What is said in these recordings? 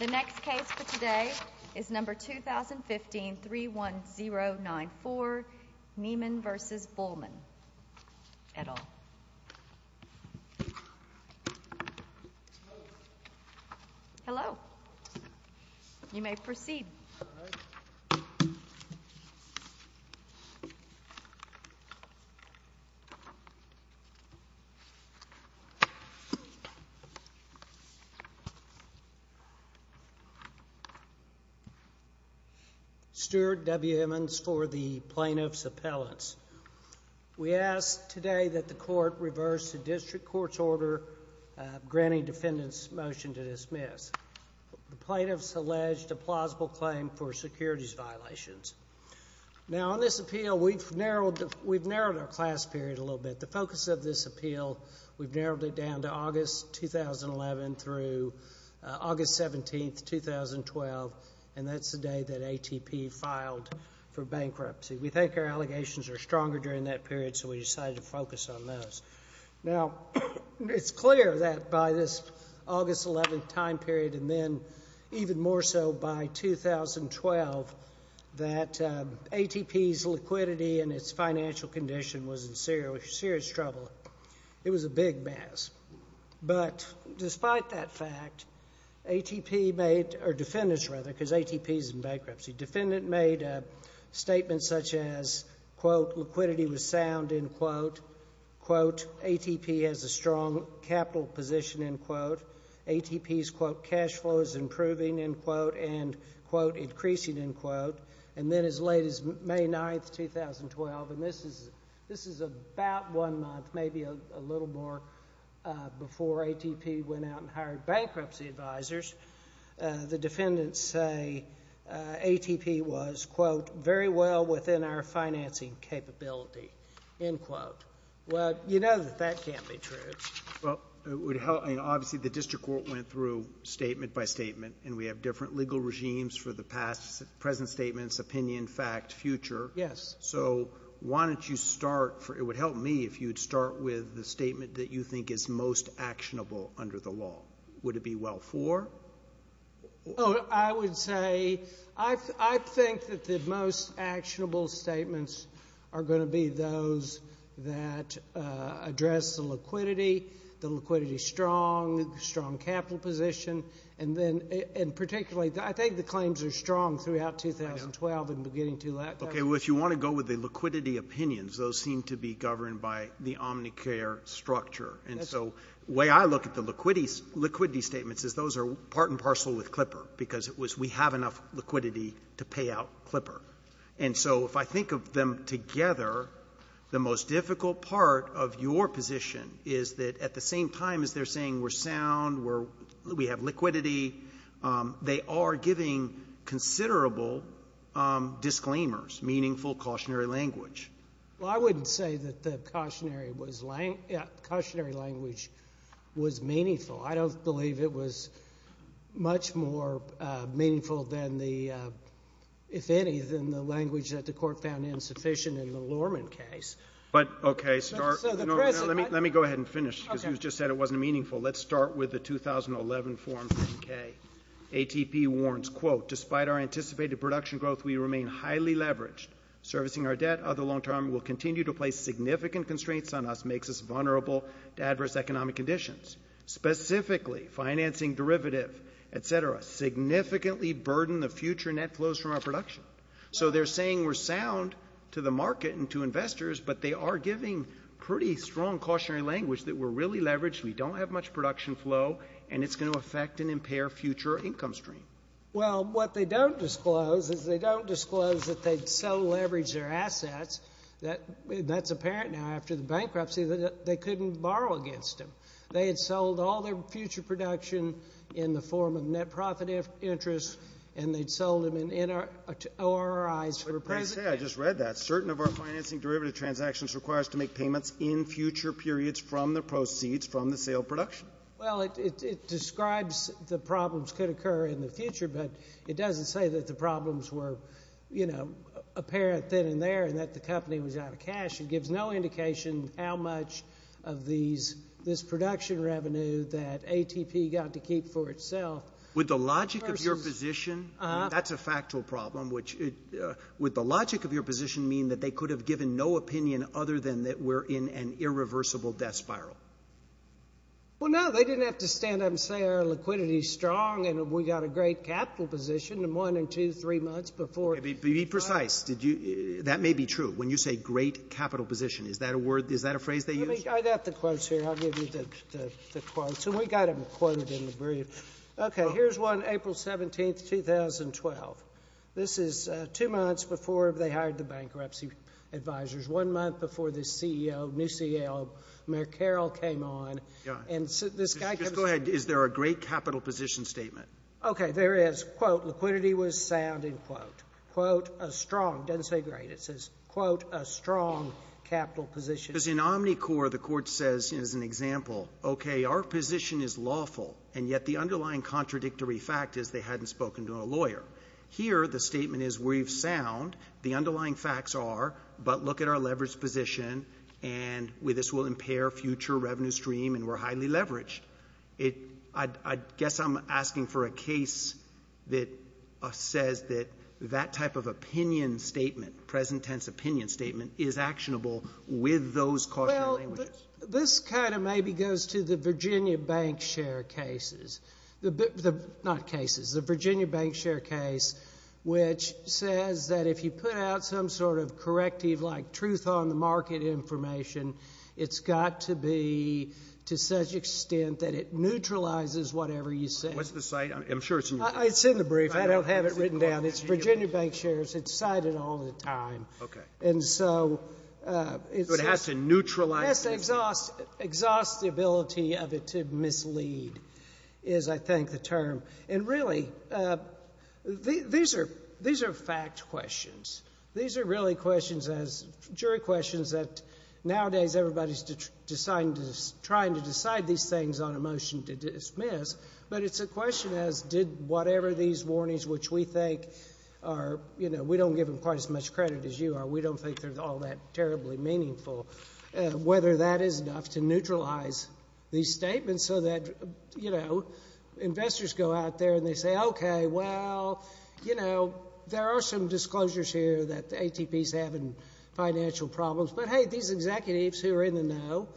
The next case for today is number 2015-31094, Neiman v. Bulmahn, et al. Hello. You may proceed. Stuart W. Emmons for the Plaintiff's Appellants. We ask today that the Court reverse the District Court's order granting defendants' motion to dismiss. The plaintiffs alleged a plausible claim for securities violations. Now, on this appeal, we've narrowed our class period a little bit. The focus of this appeal, we've narrowed it down to August 2011 through August 17, 2012, and that's the day that ATP filed for bankruptcy. We think our allegations are stronger during that period, so we decided to focus on those. Now, it's clear that by this August 11 time period and then even more so by 2012 that ATP's liquidity and its financial condition was in serious trouble. It was a big mess. But despite that fact, ATP made—or defendants, rather, because ATP's in bankruptcy. Defendants made statements such as, quote, liquidity was sound, end quote. Quote, ATP has a strong capital position, end quote. ATP's, quote, cash flow is improving, end quote, and, quote, increasing, end quote. And then as late as May 9, 2012, and this is about one month, maybe a little more, before ATP went out and hired bankruptcy advisors, the defendants say ATP was, quote, very well within our financing capability, end quote. Well, you know that that can't be true. Well, obviously the district court went through statement by statement, and we have different legal regimes for the past, present statements, opinion, fact, future. Yes. So why don't you start—it would help me if you would start with the statement that you think is most actionable under the law. Would it be well for? I would say I think that the most actionable statements are going to be those that address the liquidity, the liquidity strong, strong capital position, and particularly I think the claims are strong throughout 2012 and beginning to that time. Okay, well, if you want to go with the liquidity opinions, those seem to be governed by the Omnicare structure. And so the way I look at the liquidity statements is those are part and parcel with Clipper because it was we have enough liquidity to pay out Clipper. And so if I think of them together, the most difficult part of your position is that at the same time as they're saying we're sound, we have liquidity, they are giving considerable disclaimers, meaningful cautionary language. Well, I wouldn't say that the cautionary language was meaningful. I don't believe it was much more meaningful than the, if any, than the language that the Court found insufficient in the Lorman case. But, okay, let me go ahead and finish because you just said it wasn't meaningful. Let's start with the 2011 form 3K. ATP warns, quote, despite our anticipated production growth, we remain highly leveraged. Servicing our debt over the long term will continue to place significant constraints on us, makes us vulnerable to adverse economic conditions. Specifically, financing derivative, et cetera, significantly burden the future net flows from our production. So they're saying we're sound to the market and to investors, but they are giving pretty strong cautionary language that we're really leveraged, we don't have much production flow, and it's going to affect and impair future income stream. Well, what they don't disclose is they don't disclose that they'd so leveraged their assets that that's apparent now after the bankruptcy that they couldn't borrow against them. They had sold all their future production in the form of net profit interest and they'd sold them in ORIs for present. I just read that. Certain of our financing derivative transactions requires to make payments in future periods from the proceeds from the sale of production. Well, it describes the problems could occur in the future, but it doesn't say that the problems were, you know, apparent then and there and that the company was out of cash. It gives no indication how much of this production revenue that ATP got to keep for itself. Would the logic of your position, that's a factual problem, would the logic of your position mean that they could have given no opinion other than that we're in an irreversible death spiral? Well, no, they didn't have to stand up and say our liquidity is strong and we got a great capital position in one and two, three months before. Be precise. That may be true. When you say great capital position, is that a phrase they use? I've got the quotes here. I'll give you the quotes, and we've got them quoted in the brief. Okay, here's one, April 17, 2012. This is two months before they hired the bankruptcy advisors, one month before the new CEO, Mayor Carroll, came on. Just go ahead. Is there a great capital position statement? Okay, there is. I quote, liquidity was sound, end quote. Quote, a strong. It doesn't say great. It says, quote, a strong capital position. Because in Omnicore, the court says, as an example, okay, our position is lawful, and yet the underlying contradictory fact is they hadn't spoken to a lawyer. Here, the statement is we've sound. The underlying facts are, but look at our leveraged position, and this will impair future revenue stream, and we're highly leveraged. I guess I'm asking for a case that says that that type of opinion statement, present tense opinion statement, is actionable with those cautionary languages. Well, this kind of maybe goes to the Virginia bank share cases. Not cases, the Virginia bank share case, which says that if you put out some sort of corrective, like truth on the market information, it's got to be to such extent that it neutralizes whatever you say. What's the site? I'm sure it's in your brief. It's in the brief. I don't have it written down. It's Virginia bank shares. It's cited all the time. Okay. And so it's just. So it has to neutralize. It has to exhaust the ability of it to mislead is, I think, the term. And really, these are fact questions. These are really questions, jury questions, that nowadays everybody's trying to decide these things on a motion to dismiss. But it's a question as did whatever these warnings, which we think are, you know, we don't give them quite as much credit as you are. We don't think they're all that terribly meaningful. Whether that is enough to neutralize these statements so that, you know, investors go out there and they say, okay, well, you know, there are some disclosures here that the ATP is having financial problems. But, hey, these executives who are in the know,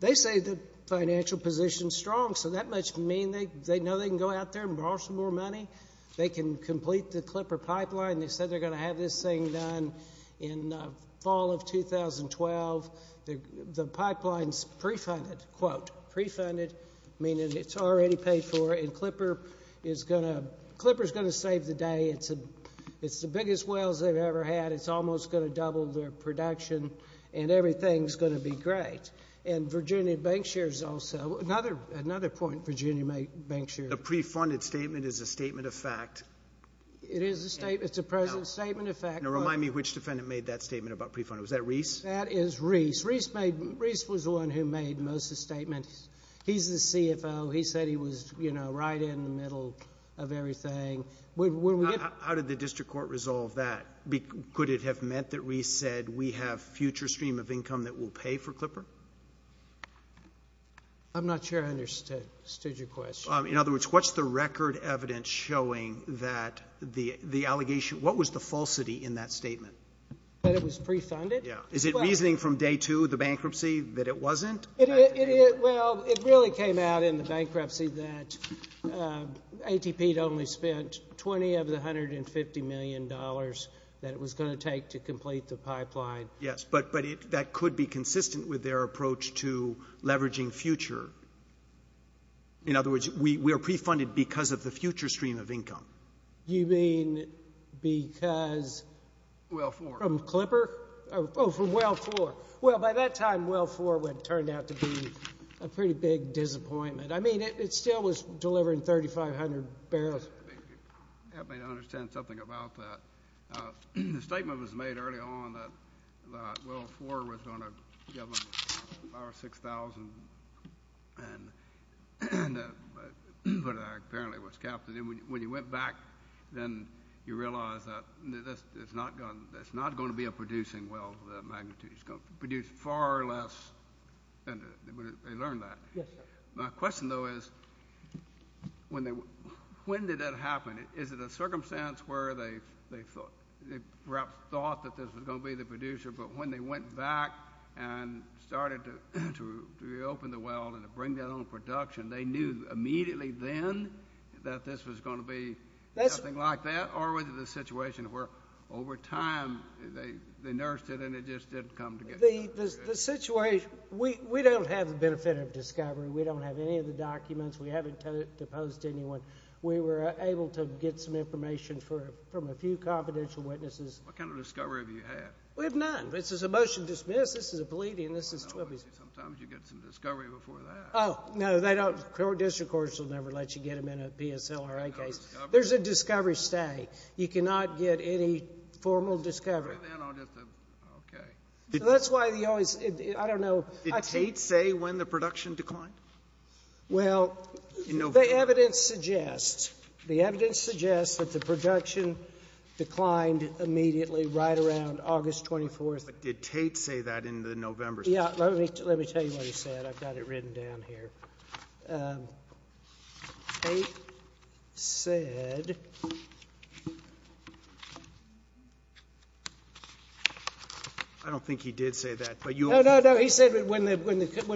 they say the financial position is strong. So that must mean they know they can go out there and borrow some more money. They can complete the Clipper pipeline. They said they're going to have this thing done in the fall of 2012. The pipeline is pre-funded, quote, pre-funded, meaning it's already paid for. And Clipper is going to save the day. It's the biggest whales they've ever had. It's almost going to double their production. And everything's going to be great. And Virginia Bank shares also. Another point Virginia Bank shares. The pre-funded statement is a statement of fact. It is a statement. It's a present statement of fact. Now, remind me which defendant made that statement about pre-funded. Was that Reese? That is Reese. Reese was the one who made most of the statements. He's the CFO. He said he was, you know, right in the middle of everything. How did the district court resolve that? Could it have meant that Reese said we have future stream of income that we'll pay for Clipper? I'm not sure I understood your question. In other words, what's the record evidence showing that the allegation — what was the falsity in that statement? That it was pre-funded? Yeah. Is it reasoning from day two, the bankruptcy, that it wasn't? Well, it really came out in the bankruptcy that ATP had only spent 20 of the $150 million that it was going to take to complete the pipeline. Yes, but that could be consistent with their approach to leveraging future. In other words, we are pre-funded because of the future stream of income. You mean because — Well, for. From Clipper? Oh, from well for. Well, by that time, well for turned out to be a pretty big disappointment. I mean, it still was delivering 3,500 barrels. Help me to understand something about that. The statement was made early on that well for was going to give them 5,000 or 6,000, but apparently it was capped. So then when you went back, then you realize that it's not going to be a producing well of that magnitude. It's going to produce far less. They learned that. Yes, sir. My question, though, is when did that happen? Is it a circumstance where they perhaps thought that this was going to be the producer, but when they went back and started to reopen the well and to bring that on production, they knew immediately then that this was going to be something like that? Or was it a situation where over time they nursed it and it just didn't come together? The situation — we don't have the benefit of discovery. We don't have any of the documents. We haven't proposed to anyone. We were able to get some information from a few confidential witnesses. What kind of discovery have you had? We have none. This is a motion dismissed. This is a pleading. Sometimes you get some discovery before that. Oh, no, they don't. District courts will never let you get them in a PSLRA case. There's a discovery stay. You cannot get any formal discovery. Okay. That's why they always — I don't know. Did Tate say when the production declined? Well, the evidence suggests — the evidence suggests that the production declined immediately right around August 24th. But did Tate say that in the November — Yeah. Let me tell you what he said. I've got it written down here. Tate said — I don't think he did say that, but you — No, no, no. He said when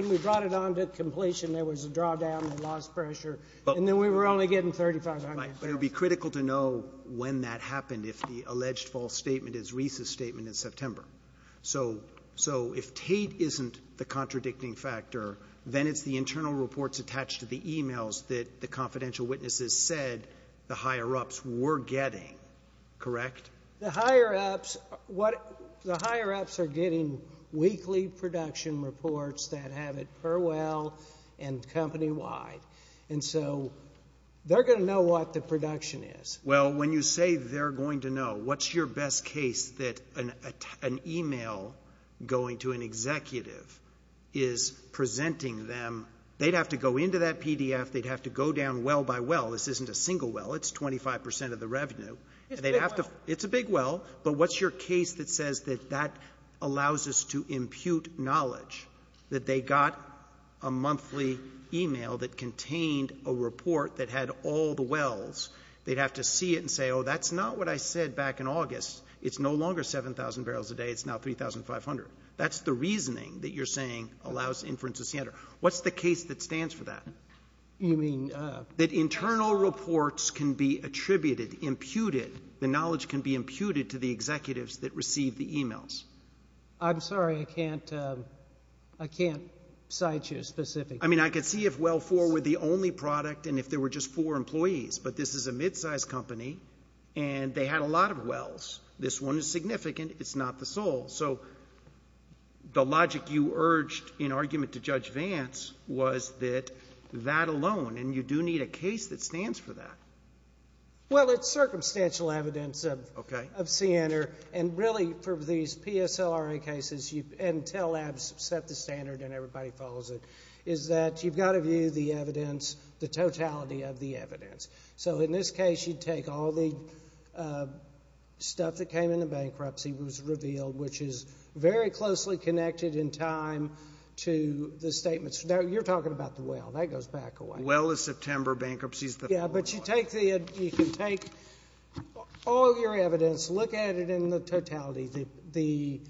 we brought it on to completion, there was a drawdown in the loss pressure, and then we were only getting 3,500. Right. But it would be critical to know when that happened if the alleged false statement is Reese's statement in September. So if Tate isn't the contradicting factor, then it's the internal reports attached to the emails that the confidential witnesses said the higher-ups were getting. Correct? The higher-ups are getting weekly production reports that have it per well and company-wide. And so they're going to know what the production is. Well, when you say they're going to know, what's your best case that an email going to an executive is presenting them — they'd have to go into that PDF, they'd have to go down well by well. This isn't a single well. It's 25 percent of the revenue. It's a big well. It's a big well. But what's your case that says that that allows us to impute knowledge, they'd have to see it and say, oh, that's not what I said back in August. It's no longer 7,000 barrels a day. It's now 3,500. That's the reasoning that you're saying allows inference to center. What's the case that stands for that? You mean — That internal reports can be attributed, imputed. The knowledge can be imputed to the executives that receive the emails. I'm sorry. I can't cite you specifically. I mean, I could see if well four were the only product and if there were just four employees, but this is a mid-sized company and they had a lot of wells. This one is significant. It's not the sole. So the logic you urged in argument to Judge Vance was that that alone, and you do need a case that stands for that. Well, it's circumstantial evidence of CNR. And really for these PSLRA cases, Intel Labs set the standard and everybody follows it, is that you've got to view the evidence, the totality of the evidence. So in this case, you take all the stuff that came in the bankruptcy was revealed, which is very closely connected in time to the statements. Now, you're talking about the well. That goes back a way. Well is September. Bankruptcy is the fourth one. Yeah, but you take all your evidence, look at it in the totality. The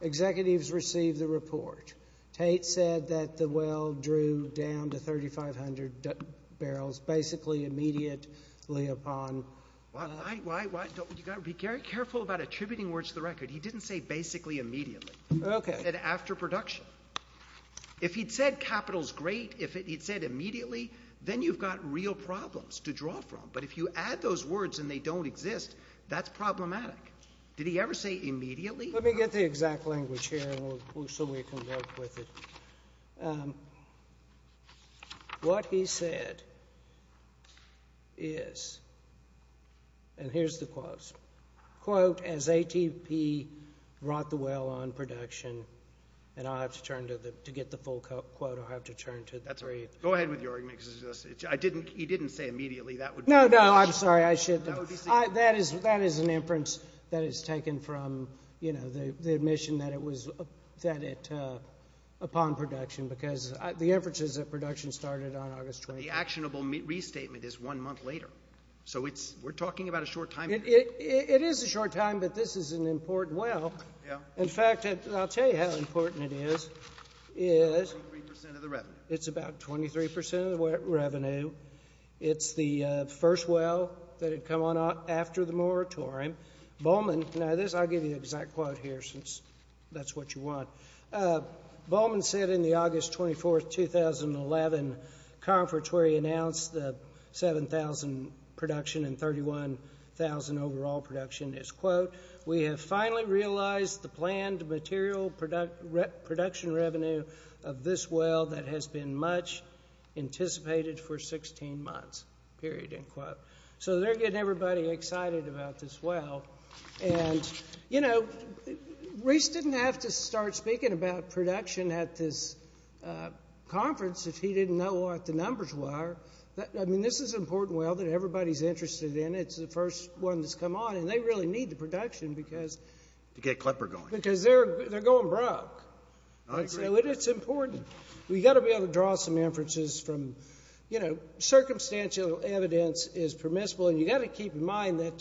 executives receive the report. Tate said that the well drew down to 3,500 barrels basically immediately upon. Why? You've got to be careful about attributing words to the record. He didn't say basically immediately. Okay. He said after production. If he'd said capital's great, if he'd said immediately, then you've got real problems to draw from. But if you add those words and they don't exist, that's problematic. Did he ever say immediately? Let me get the exact language here so we can work with it. What he said is, and here's the quotes, quote, as ATP brought the well on production, and I'll have to turn to get the full quote, I'll have to turn to. Go ahead with your argument because he didn't say immediately. No, no, I'm sorry. That is an inference that is taken from, you know, the admission that it was upon production because the inference is that production started on August 20th. The actionable restatement is one month later. So we're talking about a short time. It is a short time, but this is an important well. In fact, I'll tell you how important it is. It's about 23% of the revenue. It's about 23% of the revenue. It's the first well that had come on after the moratorium. Now, I'll give you the exact quote here since that's what you want. Bowman said in the August 24th, 2011 conference where he announced the 7,000 production and 31,000 overall production is, quote, we have finally realized the planned material production revenue of this well that has been much anticipated for 16 months, period, end quote. So they're getting everybody excited about this well. And, you know, Reese didn't have to start speaking about production at this conference if he didn't know what the numbers were. I mean, this is an important well that everybody's interested in. It's the first one that's come on, and they really need the production because they're going broke. I agree. You know, it's important. We've got to be able to draw some inferences from, you know, circumstantial evidence is permissible. And you've got to keep in mind that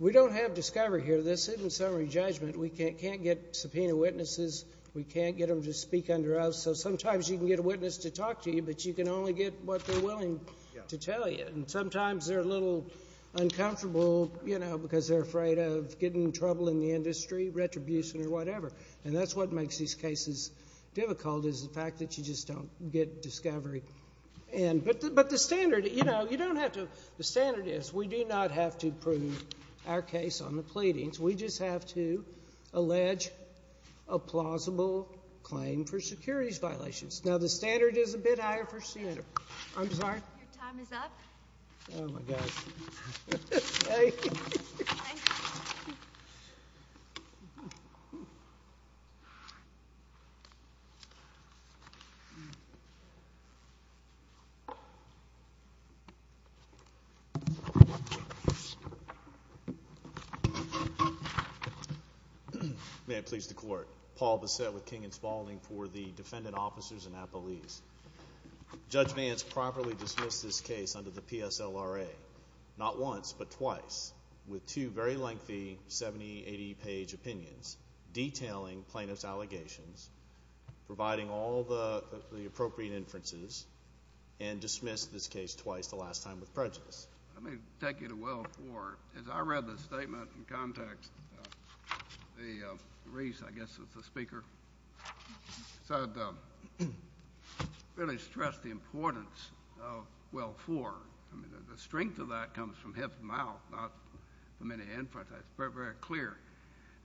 we don't have discovery here. This isn't summary judgment. We can't get subpoena witnesses. We can't get them to speak under oath. So sometimes you can get a witness to talk to you, but you can only get what they're willing to tell you. And sometimes they're a little uncomfortable, you know, because they're afraid of getting in trouble in the industry, retribution or whatever. And that's what makes these cases difficult is the fact that you just don't get discovery. But the standard, you know, you don't have to. The standard is we do not have to prove our case on the pleadings. We just have to allege a plausible claim for securities violations. Now, the standard is a bit higher for Center. I'm sorry? Your time is up. Oh, my gosh. Thank you. May it please the Court. Paul Bassett with King & Spalding for the defendant officers and appellees. Judge Vance properly dismissed this case under the PSLRA, not once but twice, with two very lengthy 70, 80-page opinions detailing plaintiff's allegations, providing all the appropriate inferences, and dismissed this case twice, the last time with prejudice. Let me take you to well four. As I read the statement in context, the reese, I guess it's the speaker, said, really stressed the importance of well four. I mean, the strength of that comes from his mouth, not from any inference. That's very, very clear.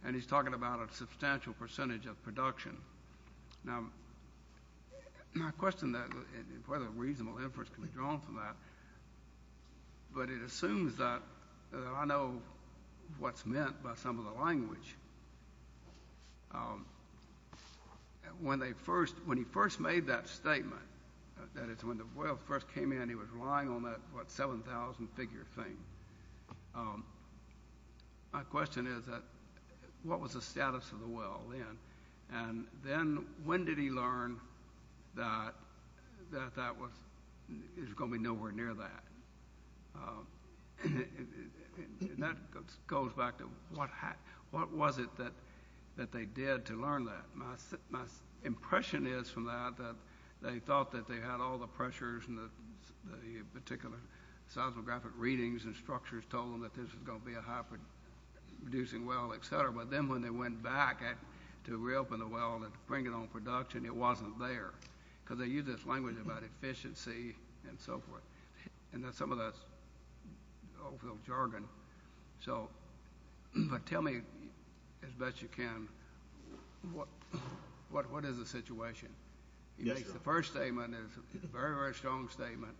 And he's talking about a substantial percentage of production. Now, my question is whether reasonable inference can be drawn from that. But it assumes that I know what's meant by some of the language. When he first made that statement, that is, when the well first came in, he was relying on that 7,000-figure thing. My question is, what was the status of the well then? And then when did he learn that that was going to be nowhere near that? And that goes back to what was it that they did to learn that. My impression is from that that they thought that they had all the pressures and the particular seismographic readings and structures told them that this was going to be a high-producing well, et cetera. But then when they went back to reopen the well and bring it on production, it wasn't there. Because they used this language about efficiency and so forth. And some of that's old-school jargon. But tell me, as best you can, what is the situation? The first statement is a very, very strong statement.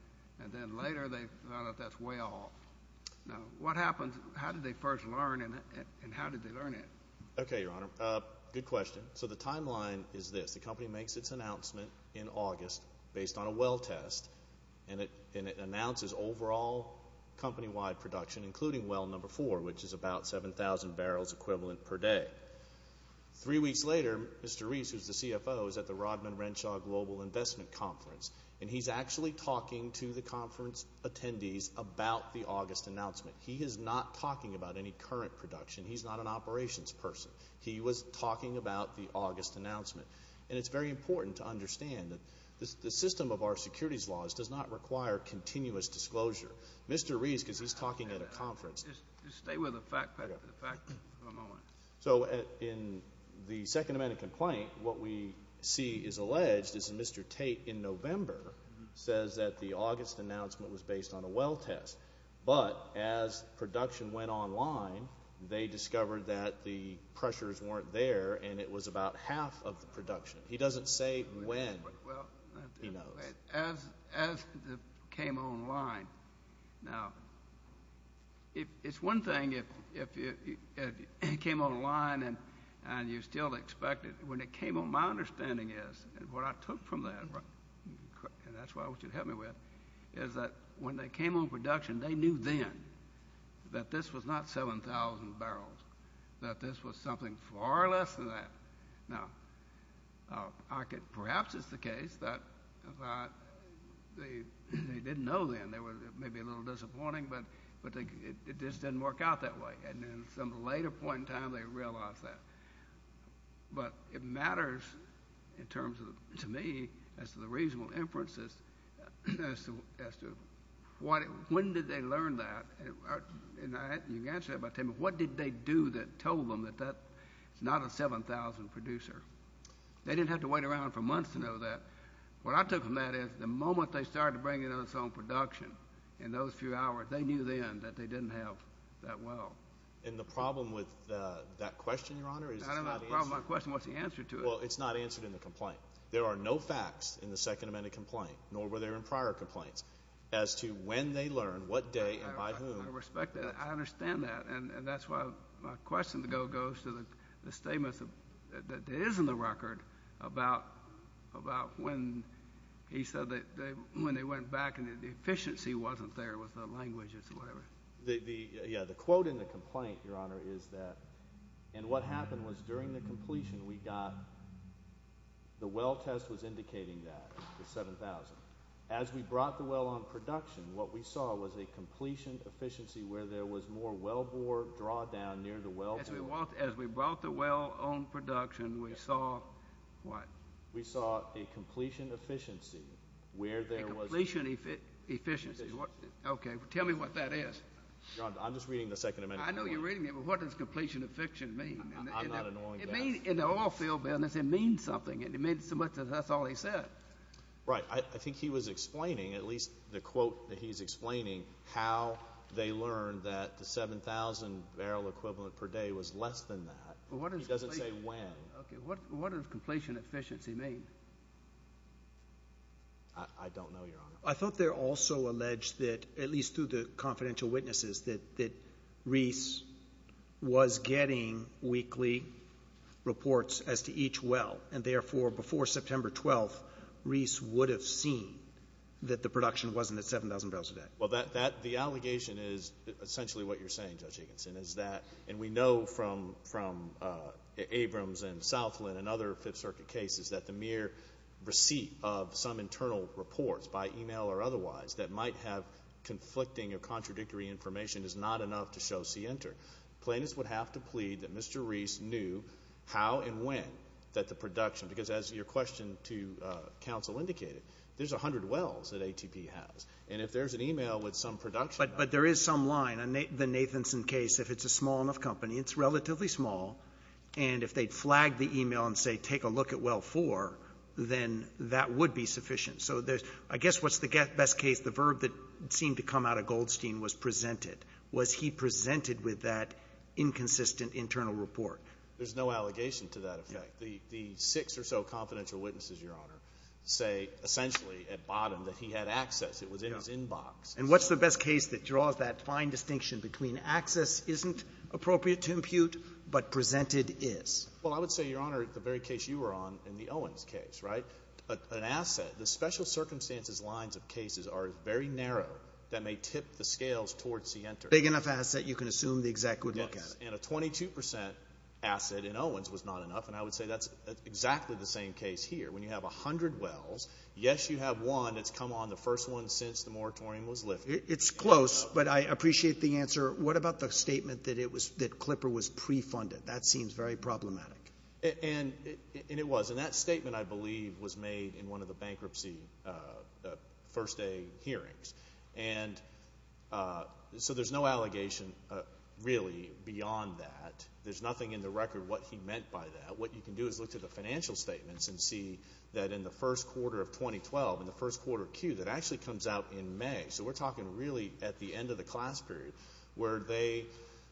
And then later they found out that's way off. What happened? How did they first learn, and how did they learn it? Okay, Your Honor. Good question. So the timeline is this. The company makes its announcement in August based on a well test, and it announces overall company-wide production, including well number four, which is about 7,000 barrels equivalent per day. Three weeks later, Mr. Reese, who's the CFO, is at the Rodman-Renshaw Global Investment Conference, and he's actually talking to the conference attendees about the August announcement. He is not talking about any current production. He's not an operations person. He was talking about the August announcement. And it's very important to understand that the system of our securities laws does not require continuous disclosure. Mr. Reese, because he's talking at a conference. Just stay with the facts for a moment. So in the Second Amendment complaint, what we see is alleged is that Mr. Tate, in November, says that the August announcement was based on a well test. But as production went online, they discovered that the pressures weren't there, and it was about half of the production. He doesn't say when. Well, as it came online. Now, it's one thing if it came online and you still expect it. When it came online, my understanding is, and what I took from that, and that's what I want you to help me with, is that when they came on production, they knew then that this was not 7,000 barrels, that this was something far less than that. Now, perhaps it's the case that they didn't know then. It may be a little disappointing, but it just didn't work out that way. And then at some later point in time, they realized that. But it matters in terms of, to me, as to the reasonable inferences, as to when did they learn that. You can answer that by saying, well, what did they do that told them that that's not a 7,000 producer? They didn't have to wait around for months to know that. What I took from that is the moment they started bringing us on production in those few hours, they knew then that they didn't have that well. And the problem with that question, Your Honor, is it's not answered. I don't have a problem with my question. What's the answer to it? Well, it's not answered in the complaint. There are no facts in the Second Amendment complaint, nor were there in prior complaints, as to when they learned, what day, and by whom. I respect that. I understand that. And that's why my question goes to the statements that is in the record about when he said that when they went back and the efficiency wasn't there with the languages or whatever. Yeah, the quote in the complaint, Your Honor, is that, and what happened was during the completion, we got the well test was indicating that, the 7,000. As we brought the well on production, what we saw was a completion efficiency where there was more well bore drawdown near the well bore. As we brought the well on production, we saw what? We saw a completion efficiency where there was. A completion efficiency. Okay. Tell me what that is. Your Honor, I'm just reading the Second Amendment. I know you're reading it, but what does completion efficiency mean? I'm not ignoring that. In the oil field business, it means something. It means so much that that's all he said. Right. I think he was explaining, at least the quote that he's explaining, how they learned that the 7,000 barrel equivalent per day was less than that. He doesn't say when. Okay. What does completion efficiency mean? I don't know, Your Honor. I thought they also alleged that, at least through the confidential witnesses, that Reese was getting weekly reports as to each well. And, therefore, before September 12th, Reese would have seen that the production wasn't at 7,000 barrels a day. Well, the allegation is essentially what you're saying, Judge Agenson, is that, and we know from Abrams and Southland and other Fifth Circuit cases that the mere receipt of some internal reports, by email or otherwise, that might have conflicting or contradictory information is not enough to show C enter. Plaintiffs would have to plead that Mr. Reese knew how and when that the production, because as your question to counsel indicated, there's 100 wells that ATP has. And if there's an email with some production. But there is some line. The Nathanson case, if it's a small enough company, it's relatively small. And if they flag the email and say, take a look at well four, then that would be sufficient. So I guess what's the best case, the verb that seemed to come out of Goldstein was presented. Was he presented with that inconsistent internal report? There's no allegation to that effect. The six or so confidential witnesses, Your Honor, say essentially at bottom that he had access. It was in his inbox. And what's the best case that draws that fine distinction between access isn't appropriate to impute but presented is? Well, I would say, Your Honor, the very case you were on in the Owens case, an asset, the special circumstances lines of cases are very narrow that may tip the scales towards C enter. A big enough asset you can assume the exec would look at it. And a 22% asset in Owens was not enough. And I would say that's exactly the same case here. When you have 100 wells, yes, you have one that's come on, the first one since the moratorium was lifted. It's close, but I appreciate the answer. What about the statement that Clipper was pre-funded? That seems very problematic. And it was. And that statement, I believe, was made in one of the bankruptcy first day hearings. And so there's no allegation really beyond that. There's nothing in the record what he meant by that. What you can do is look to the financial statements and see that in the first quarter of 2012, in the first quarter of Q, that actually comes out in May. So we're talking really at the end of the class period where they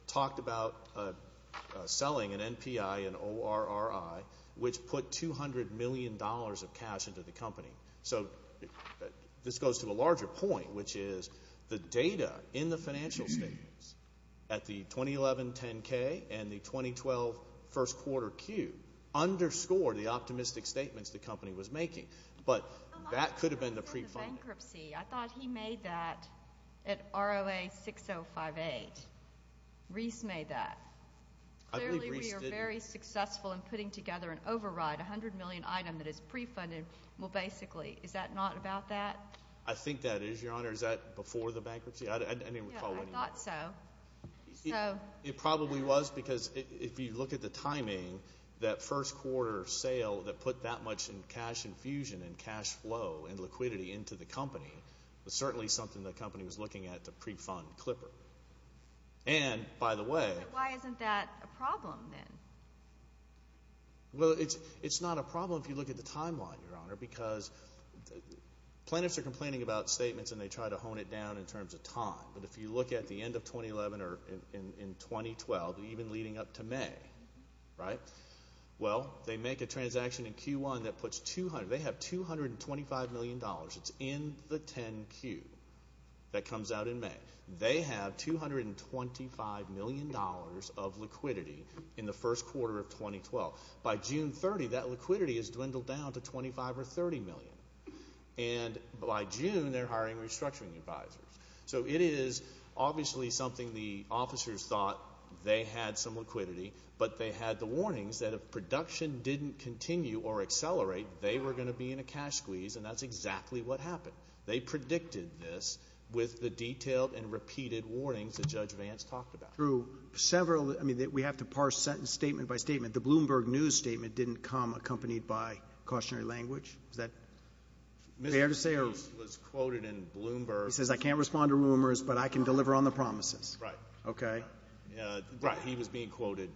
talked about selling an NPI, an ORRI, which put $200 million of cash into the company. So this goes to a larger point, which is the data in the financial statements at the 2011 10-K and the 2012 first quarter Q underscored the optimistic statements the company was making. But that could have been the pre-funding. I thought he made that at ROA 6058. Reese made that. Clearly, we are very successful in putting together an override. $100 million item that is pre-funded. Well, basically, is that not about that? I think that is, Your Honor. Is that before the bankruptcy? I didn't recall any of that. I thought so. It probably was because if you look at the timing, that first quarter sale that put that much in cash infusion and cash flow and liquidity into the company was certainly something the company was looking at to pre-fund Clipper. And, by the way... But why isn't that a problem then? Well, it's not a problem if you look at the timeline, Your Honor, because planners are complaining about statements and they try to hone it down in terms of time. But if you look at the end of 2011 or in 2012, even leading up to May, right? Well, they make a transaction in Q1 that puts 200. They have $225 million. It's in the 10-Q that comes out in May. They have $225 million of liquidity in the first quarter of 2012. By June 30, that liquidity has dwindled down to $25 or $30 million. And by June, they're hiring restructuring advisors. So it is obviously something the officers thought they had some liquidity, but they had the warnings that if production didn't continue or accelerate, they were going to be in a cash squeeze, and that's exactly what happened. They predicted this with the detailed and repeated warnings that Judge Vance talked about. Through several, I mean, we have to parse statement by statement. The Bloomberg News statement didn't come accompanied by cautionary language. Is that fair to say? Mr. Moody was quoted in Bloomberg. He says, I can't respond to rumors, but I can deliver on the promises. Right. Okay. Right. He was being quoted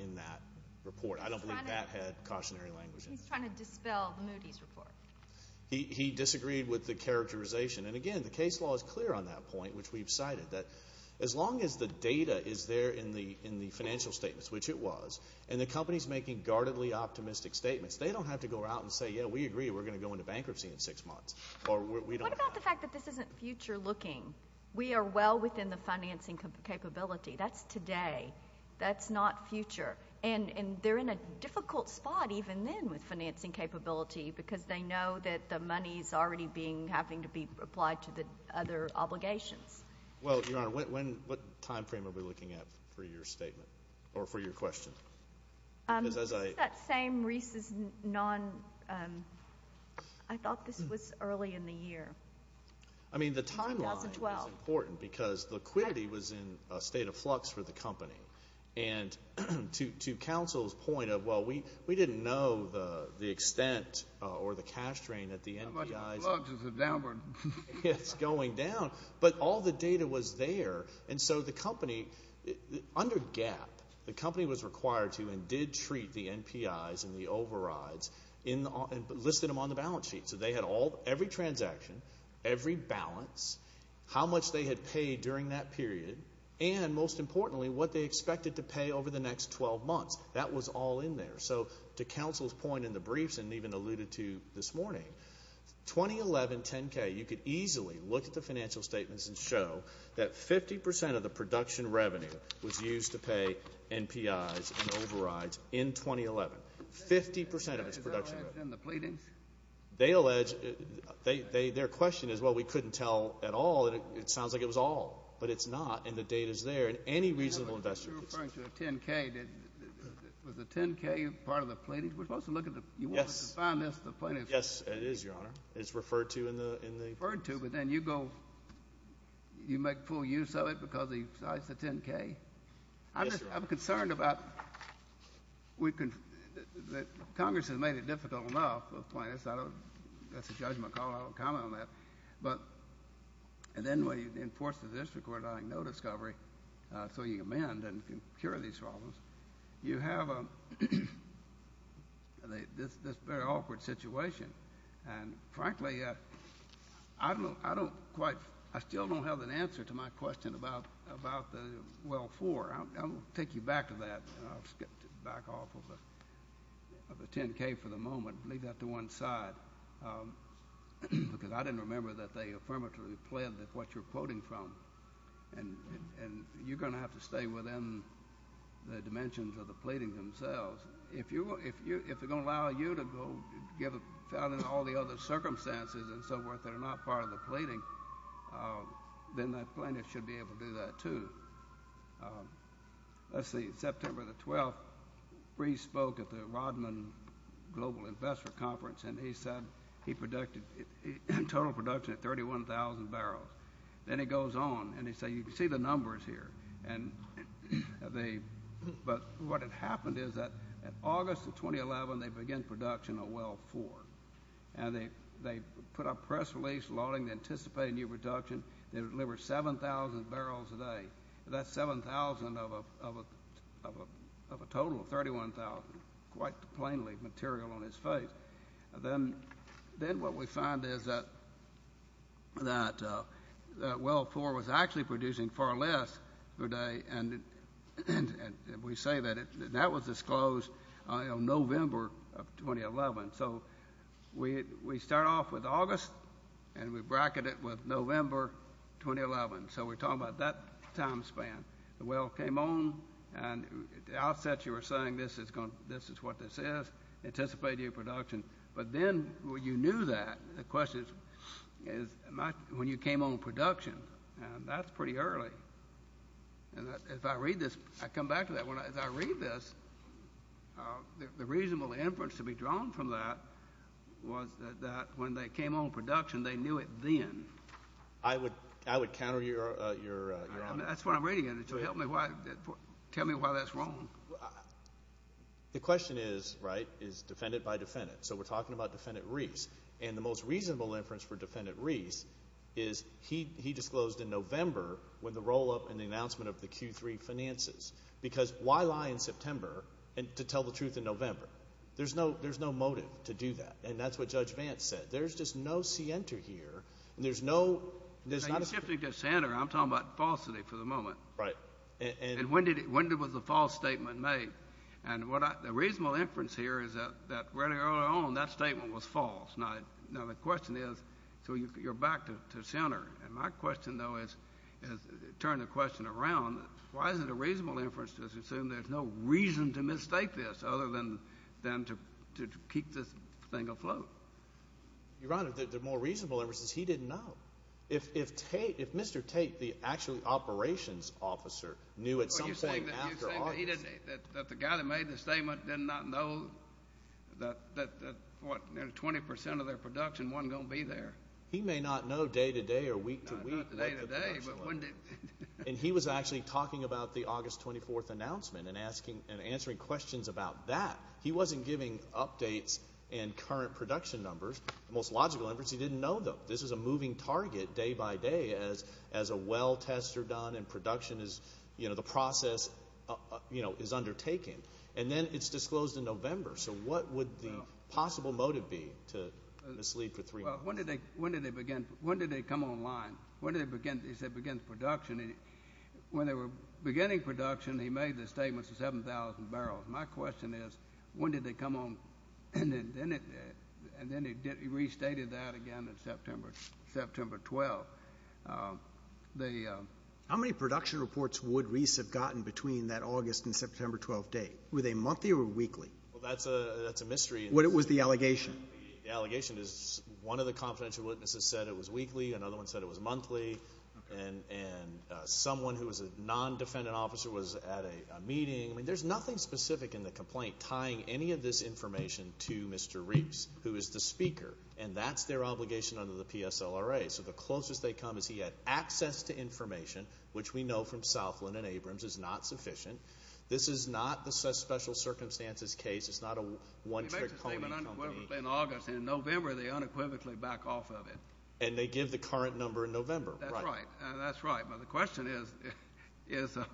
in that report. I don't believe that had cautionary language in it. He's trying to dispel Moody's report. He disagreed with the characterization. And, again, the case law is clear on that point, which we've cited, that as long as the data is there in the financial statements, which it was, and the company is making guardedly optimistic statements, they don't have to go out and say, yeah, we agree, we're going to go into bankruptcy in six months. What about the fact that this isn't future looking? We are well within the financing capability. That's today. That's not future. And they're in a difficult spot even then with financing capability because they know that the money is already having to be applied to the other obligations. Well, Your Honor, what time frame are we looking at for your statement or for your question? That same Reese's non – I thought this was early in the year. I mean, the timeline is important because liquidity was in a state of flux for the company. And to counsel's point of, well, we didn't know the extent or the cash drain at the NPI. How much flux is it downward? It's going down. But all the data was there. And so the company, under GAAP, the company was required to and did treat the NPIs and the overrides and listed them on the balance sheet. So they had every transaction, every balance, how much they had paid during that period, and most importantly, what they expected to pay over the next 12 months. That was all in there. So to counsel's point in the briefs and even alluded to this morning, 2011 10-K, you could easily look at the financial statements and show that 50% of the production revenue was used to pay NPIs and overrides in 2011. 50% of its production revenue. Is that less than the pleadings? They allege – their question is, well, we couldn't tell at all. It sounds like it was all. But it's not, and the data is there. And any reasonable investor could see that. You're referring to a 10-K. Was the 10-K part of the pleadings? We're supposed to look at the – you wanted to find this, the plaintiffs. Yes, it is, Your Honor. It's referred to in the – It's referred to, but then you go – you make full use of it because it's a 10-K? Yes, Your Honor. I'm concerned about – Congress has made it difficult enough for plaintiffs. That's a judgment call. I don't comment on that. But – and then when you enforce the district order, like no discovery, so you amend and cure these problems, you have this very awkward situation. And frankly, I don't quite – I still don't have an answer to my question about the – well, four. I'll take you back to that. I'll skip back off of the 10-K for the moment and leave that to one side because I didn't remember that they affirmatively pledged what you're quoting from. And you're going to have to stay within the dimensions of the pleadings themselves. If you – if they're going to allow you to go get found in all the other circumstances and so forth that are not part of the pleading, then that plaintiff should be able to do that too. Let's see. September the 12th, Breeze spoke at the Rodman Global Investment Conference, and he said he produced – totaled production at 31,000 barrels. Then he goes on, and he said, you can see the numbers here. And they – but what had happened is that in August of 2011, they began production of well four. And they put up press release lauding the anticipated new production. They delivered 7,000 barrels a day. That's 7,000 of a total of 31,000, quite plainly material on his face. Then what we found is that well four was actually producing far less per day, and we say that that was disclosed in November of 2011. So we start off with August, and we bracket it with November 2011. So we're talking about that time span. The well came on, and at the outset you were saying this is what this is. That's anticipated production. But then when you knew that, the question is when you came on production, and that's pretty early. And if I read this, I come back to that. As I read this, the reasonable inference to be drawn from that was that when they came on production, they knew it then. I would counter your – That's what I'm reading. Tell me why that's wrong. The question is, right, is defendant by defendant. So we're talking about Defendant Reese. And the most reasonable inference for Defendant Reese is he disclosed in November when the roll-up and the announcement of the Q3 finances. Because why lie in September to tell the truth in November? There's no motive to do that, and that's what Judge Vance said. There's just no scienter here, and there's no – You're shifting to scienter. I'm talking about falsity for the moment. Right. And when was the false statement made? And the reasonable inference here is that rather early on, that statement was false. Now, the question is – so you're back to scienter. And my question, though, is – turn the question around. Why is it a reasonable inference to assume there's no reason to mistake this other than to keep this thing afloat? Your Honor, the more reasonable inference is he didn't know. If Mr. Tate, the actual operations officer, knew at some point after August – You're saying that the guy that made the statement did not know that, what, nearly 20 percent of their production wasn't going to be there. He may not know day to day or week to week. Not day to day, but wouldn't it – And he was actually talking about the August 24th announcement and answering questions about that. He wasn't giving updates and current production numbers. The most logical inference, he didn't know them. This is a moving target day by day as a well test is done and production is – the process is undertaken. And then it's disclosed in November. So what would the possible motive be to mislead for three months? When did they begin – when did they come online? When did they begin – he said begin production. When they were beginning production, he made the statements of 7,000 barrels. My question is when did they come on – and then he restated that again in September 12th. How many production reports would Reese have gotten between that August and September 12th date? Were they monthly or weekly? Well, that's a mystery. What was the allegation? The allegation is one of the confidential witnesses said it was weekly. Another one said it was monthly. And someone who was a non-defendant officer was at a meeting. I mean there's nothing specific in the complaint tying any of this information to Mr. Reese, who is the speaker, and that's their obligation under the PSLRA. So the closest they come is he had access to information, which we know from Southland and Abrams is not sufficient. This is not the special circumstances case. It's not a one-trick pony company. He made the statement unequivocally in August, and in November they unequivocally back off of it. And they give the current number in November. That's right. But the question is, I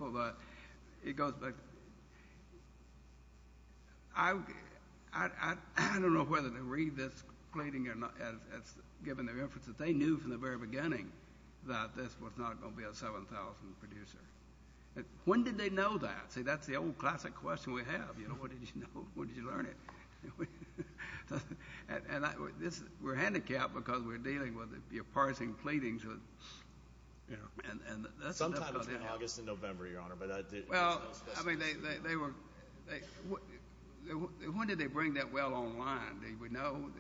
don't know whether to read this pleading or not. It's given the reference that they knew from the very beginning that this was not going to be a 7,000 producer. When did they know that? See, that's the old classic question we have. What did you know? What did you learn? And we're handicapped because we're dealing with the parsing pleadings. Sometime between August and November, Your Honor. Well, I mean, when did they bring that well online? Did we know?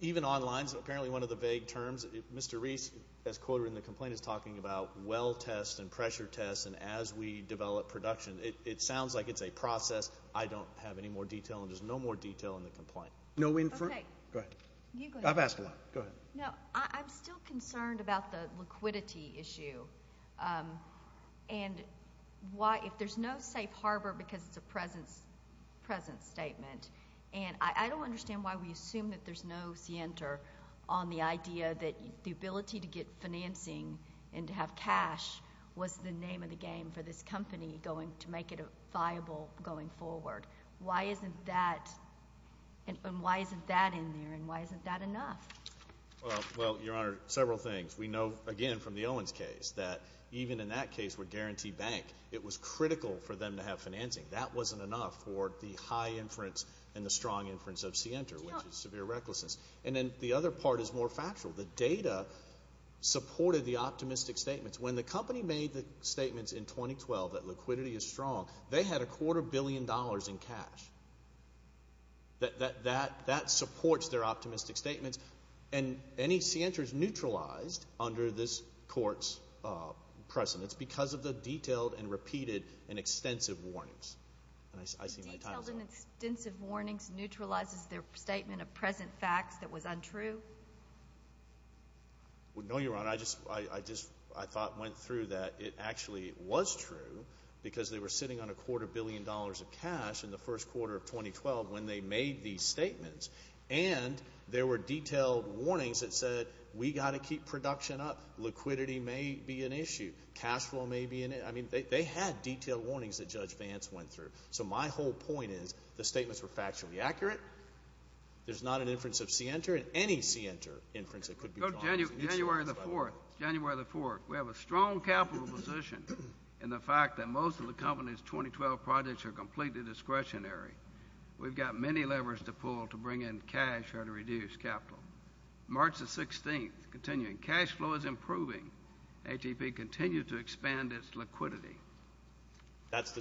Even online is apparently one of the vague terms. Mr. Reese, as quoted in the complaint, is talking about well tests and pressure tests and as we develop production. It sounds like it's a process. I don't have any more detail, and there's no more detail in the complaint. Okay. Go ahead. I've asked a lot. Go ahead. No, I'm still concerned about the liquidity issue. And if there's no safe harbor because it's a present statement, and I don't understand why we assume that there's no scienter on the idea that the ability to get financing and to have cash was the name of the game for this company going to make it viable going forward. Why isn't that in there, and why isn't that enough? Well, Your Honor, several things. We know, again, from the Owens case, that even in that case with Guarantee Bank, it was critical for them to have financing. That wasn't enough for the high inference and the strong inference of scienter, which is severe recklessness. And then the other part is more factual. The data supported the optimistic statements. When the company made the statements in 2012 that liquidity is strong, they had a quarter billion dollars in cash. That supports their optimistic statements, and any scienter is neutralized under this court's precedence because of the detailed and repeated and extensive warnings. Detailed and extensive warnings neutralizes their statement of present facts that was untrue? No, Your Honor. I just thought and went through that it actually was true because they were sitting on a quarter billion dollars of cash in the first quarter of 2012 when they made these statements, and there were detailed warnings that said we've got to keep production up. Liquidity may be an issue. Cash flow may be an issue. I mean, they had detailed warnings that Judge Vance went through. So my whole point is the statements were factually accurate. There's not an inference of scienter, and any scienter inference that could be drawn is an issue. January the 4th. January the 4th. We have a strong capital position in the fact that most of the company's 2012 projects are completely discretionary. We've got many levers to pull to bring in cash or to reduce capital. March the 16th, continuing, cash flow is improving. ATP continues to expand its liquidity. That's the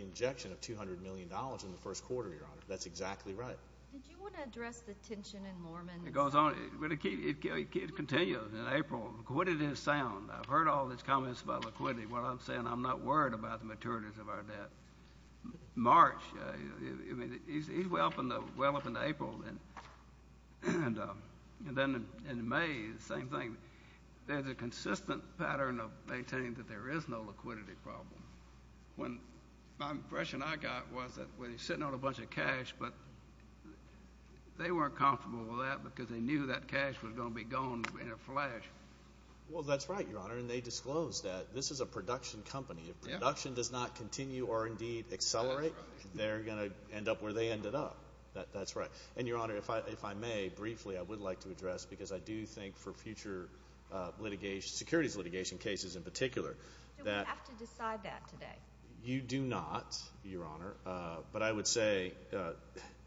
injection of $200 million in the first quarter, Your Honor. That's exactly right. Did you want to address the tension in Mormon? It goes on. It continues in April. Liquidity is sound. I've heard all these comments about liquidity. What I'm saying, I'm not worried about the maturities of our debt. March, I mean, he's well up into April. And then in May, the same thing. There's a consistent pattern of maintaining that there is no liquidity problem. My impression I got was that we're sitting on a bunch of cash, but they weren't comfortable with that because they knew that cash was going to be gone in a flash. Well, that's right, Your Honor, and they disclosed that. This is a production company. If production does not continue or indeed accelerate, they're going to end up where they ended up. That's right. And, Your Honor, if I may briefly, I would like to address, because I do think for future litigation, securities litigation cases in particular. Do we have to decide that today? You do not, Your Honor, but I would say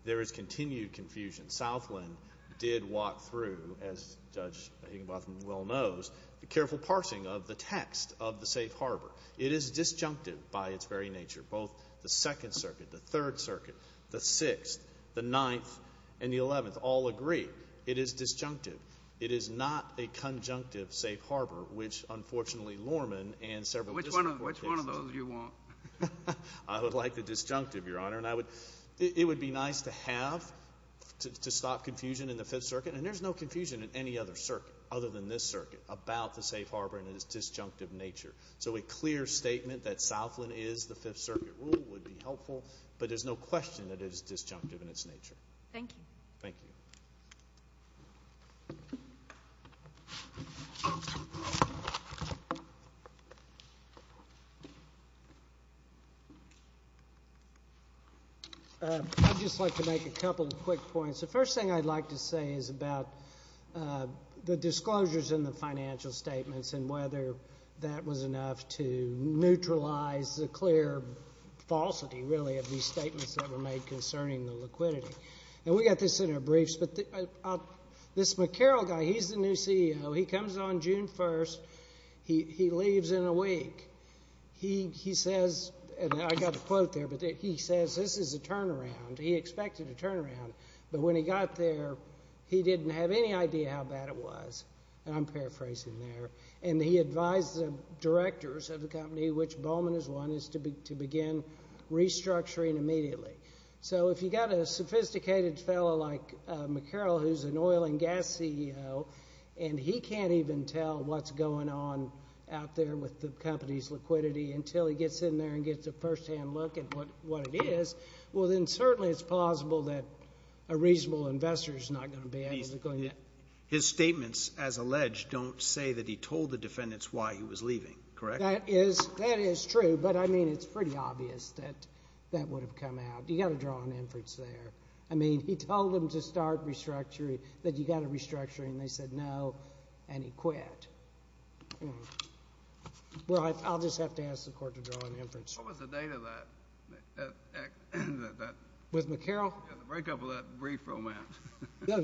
there is continued confusion. Southland did walk through, as Judge Higginbotham well knows, the careful parsing of the text of the safe harbor. It is disjunctive by its very nature. Both the Second Circuit, the Third Circuit, the Sixth, the Ninth, and the Eleventh all agree. It is disjunctive. It is not a conjunctive safe harbor, which, unfortunately, Lorman and several disconfort cases. Which one of those do you want? I would like the disjunctive, Your Honor, and it would be nice to have to stop confusion in the Fifth Circuit, and there's no confusion in any other circuit other than this circuit about the safe harbor and its disjunctive nature. So a clear statement that Southland is the Fifth Circuit rule would be helpful, but there's no question that it is disjunctive in its nature. Thank you. Thank you. I'd just like to make a couple of quick points. The first thing I'd like to say is about the disclosures in the financial statements and whether that was enough to neutralize the clear falsity, really, of these statements that were made concerning the liquidity. And we got this in our briefs, but this McCarroll guy, he's the new CEO. He comes on June 1st. He leaves in a week. He says, and I've got a quote there, but he says this is a turnaround. He expected a turnaround, but when he got there, he didn't have any idea how bad it was, and I'm paraphrasing there, and he advised the directors of the company, which Bowman is one, is to begin restructuring immediately. So if you've got a sophisticated fellow like McCarroll who's an oil and gas CEO and he can't even tell what's going on out there with the company's liquidity until he gets in there and gets a firsthand look at what it is, well, then certainly it's plausible that a reasonable investor is not going to be able to go in there. His statements, as alleged, don't say that he told the defendants why he was leaving, correct? That is true, but, I mean, it's pretty obvious that that would have come out. You've got to draw an inference there. I mean, he told them to start restructuring, that you've got to restructure, and they said no, and he quit. Well, I'll just have to ask the Court to draw an inference. What was the date of that? With McCarroll? Yeah, the breakup of that brief romance.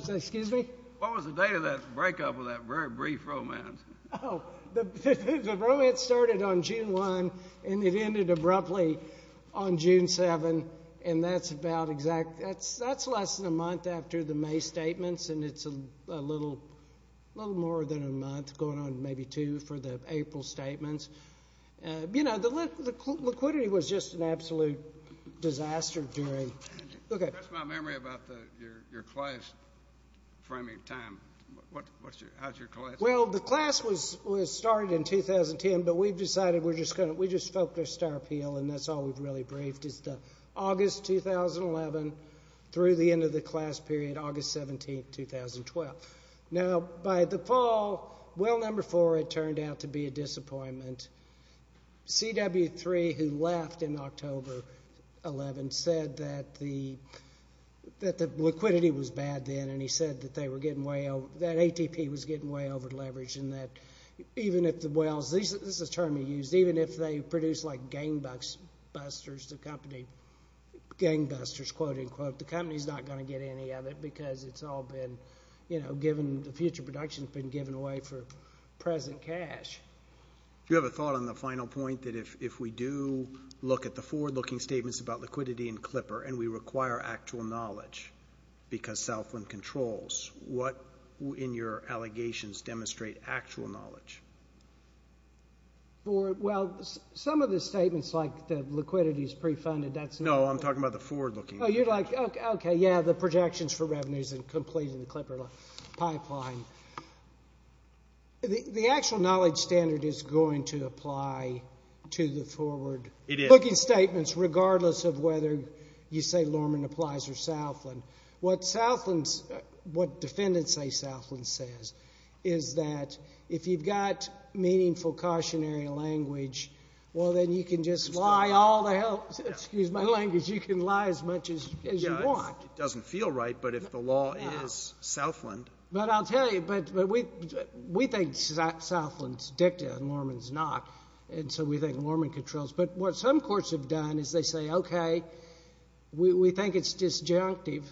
Excuse me? What was the date of that breakup of that brief romance? Oh, the romance started on June 1 and it ended abruptly on June 7, and that's less than a month after the May statements, and it's a little more than a month, going on maybe two for the April statements. You know, the liquidity was just an absolute disaster during. That's my memory about your class framing time. How's your class? Well, the class was started in 2010, but we've decided we're just going to, we just focused our appeal, and that's all we've really briefed, is August 2011 through the end of the class period, August 17, 2012. Now, by the fall, well number four had turned out to be a disappointment. CW3, who left in October 11, said that the liquidity was bad then, and he said that they were getting way over, that ATP was getting way over leveraged, and that even if the Wells, this is a term he used, even if they produce like gangbusters, the company, gangbusters, quote-unquote, the company's not going to get any of it because it's all been, you know, given, the future production's been given away for present cash. Do you have a thought on the final point that if we do look at the forward-looking statements about liquidity and Clipper and we require actual knowledge because Southland controls, what in your allegations demonstrate actual knowledge? Well, some of the statements like the liquidity's pre-funded, that's not. No, I'm talking about the forward-looking. Oh, you're like, okay, yeah, the projections for revenues and completing the Clipper pipeline. The actual knowledge standard is going to apply to the forward-looking statements, regardless of whether you say Lorman applies or Southland. What Southland's, what defendants say Southland says is that if you've got meaningful cautionary language, well, then you can just lie all the hell, excuse my language, you can lie as much as you want. It doesn't feel right, but if the law is Southland. But I'll tell you, but we think Southland's dicta and Lorman's not, and so we think Lorman controls. But what some courts have done is they say, okay, we think it's disjunctive,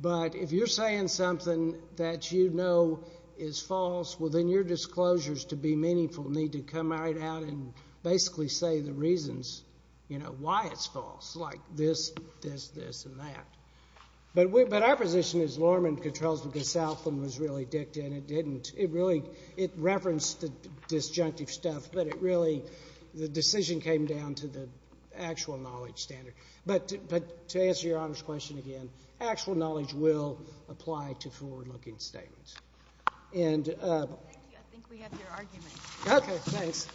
but if you're saying something that you know is false, well, then your disclosures to be meaningful need to come right out and basically say the reasons, you know, why it's false, like this, this, this, and that. But our position is Lorman controls because Southland was really dicta and it didn't. It really, it referenced the disjunctive stuff, but it really, the decision came down to the actual knowledge standard. But to answer Your Honor's question again, actual knowledge will apply to forward-looking statements. Thank you, I think we have your argument. Okay, thanks.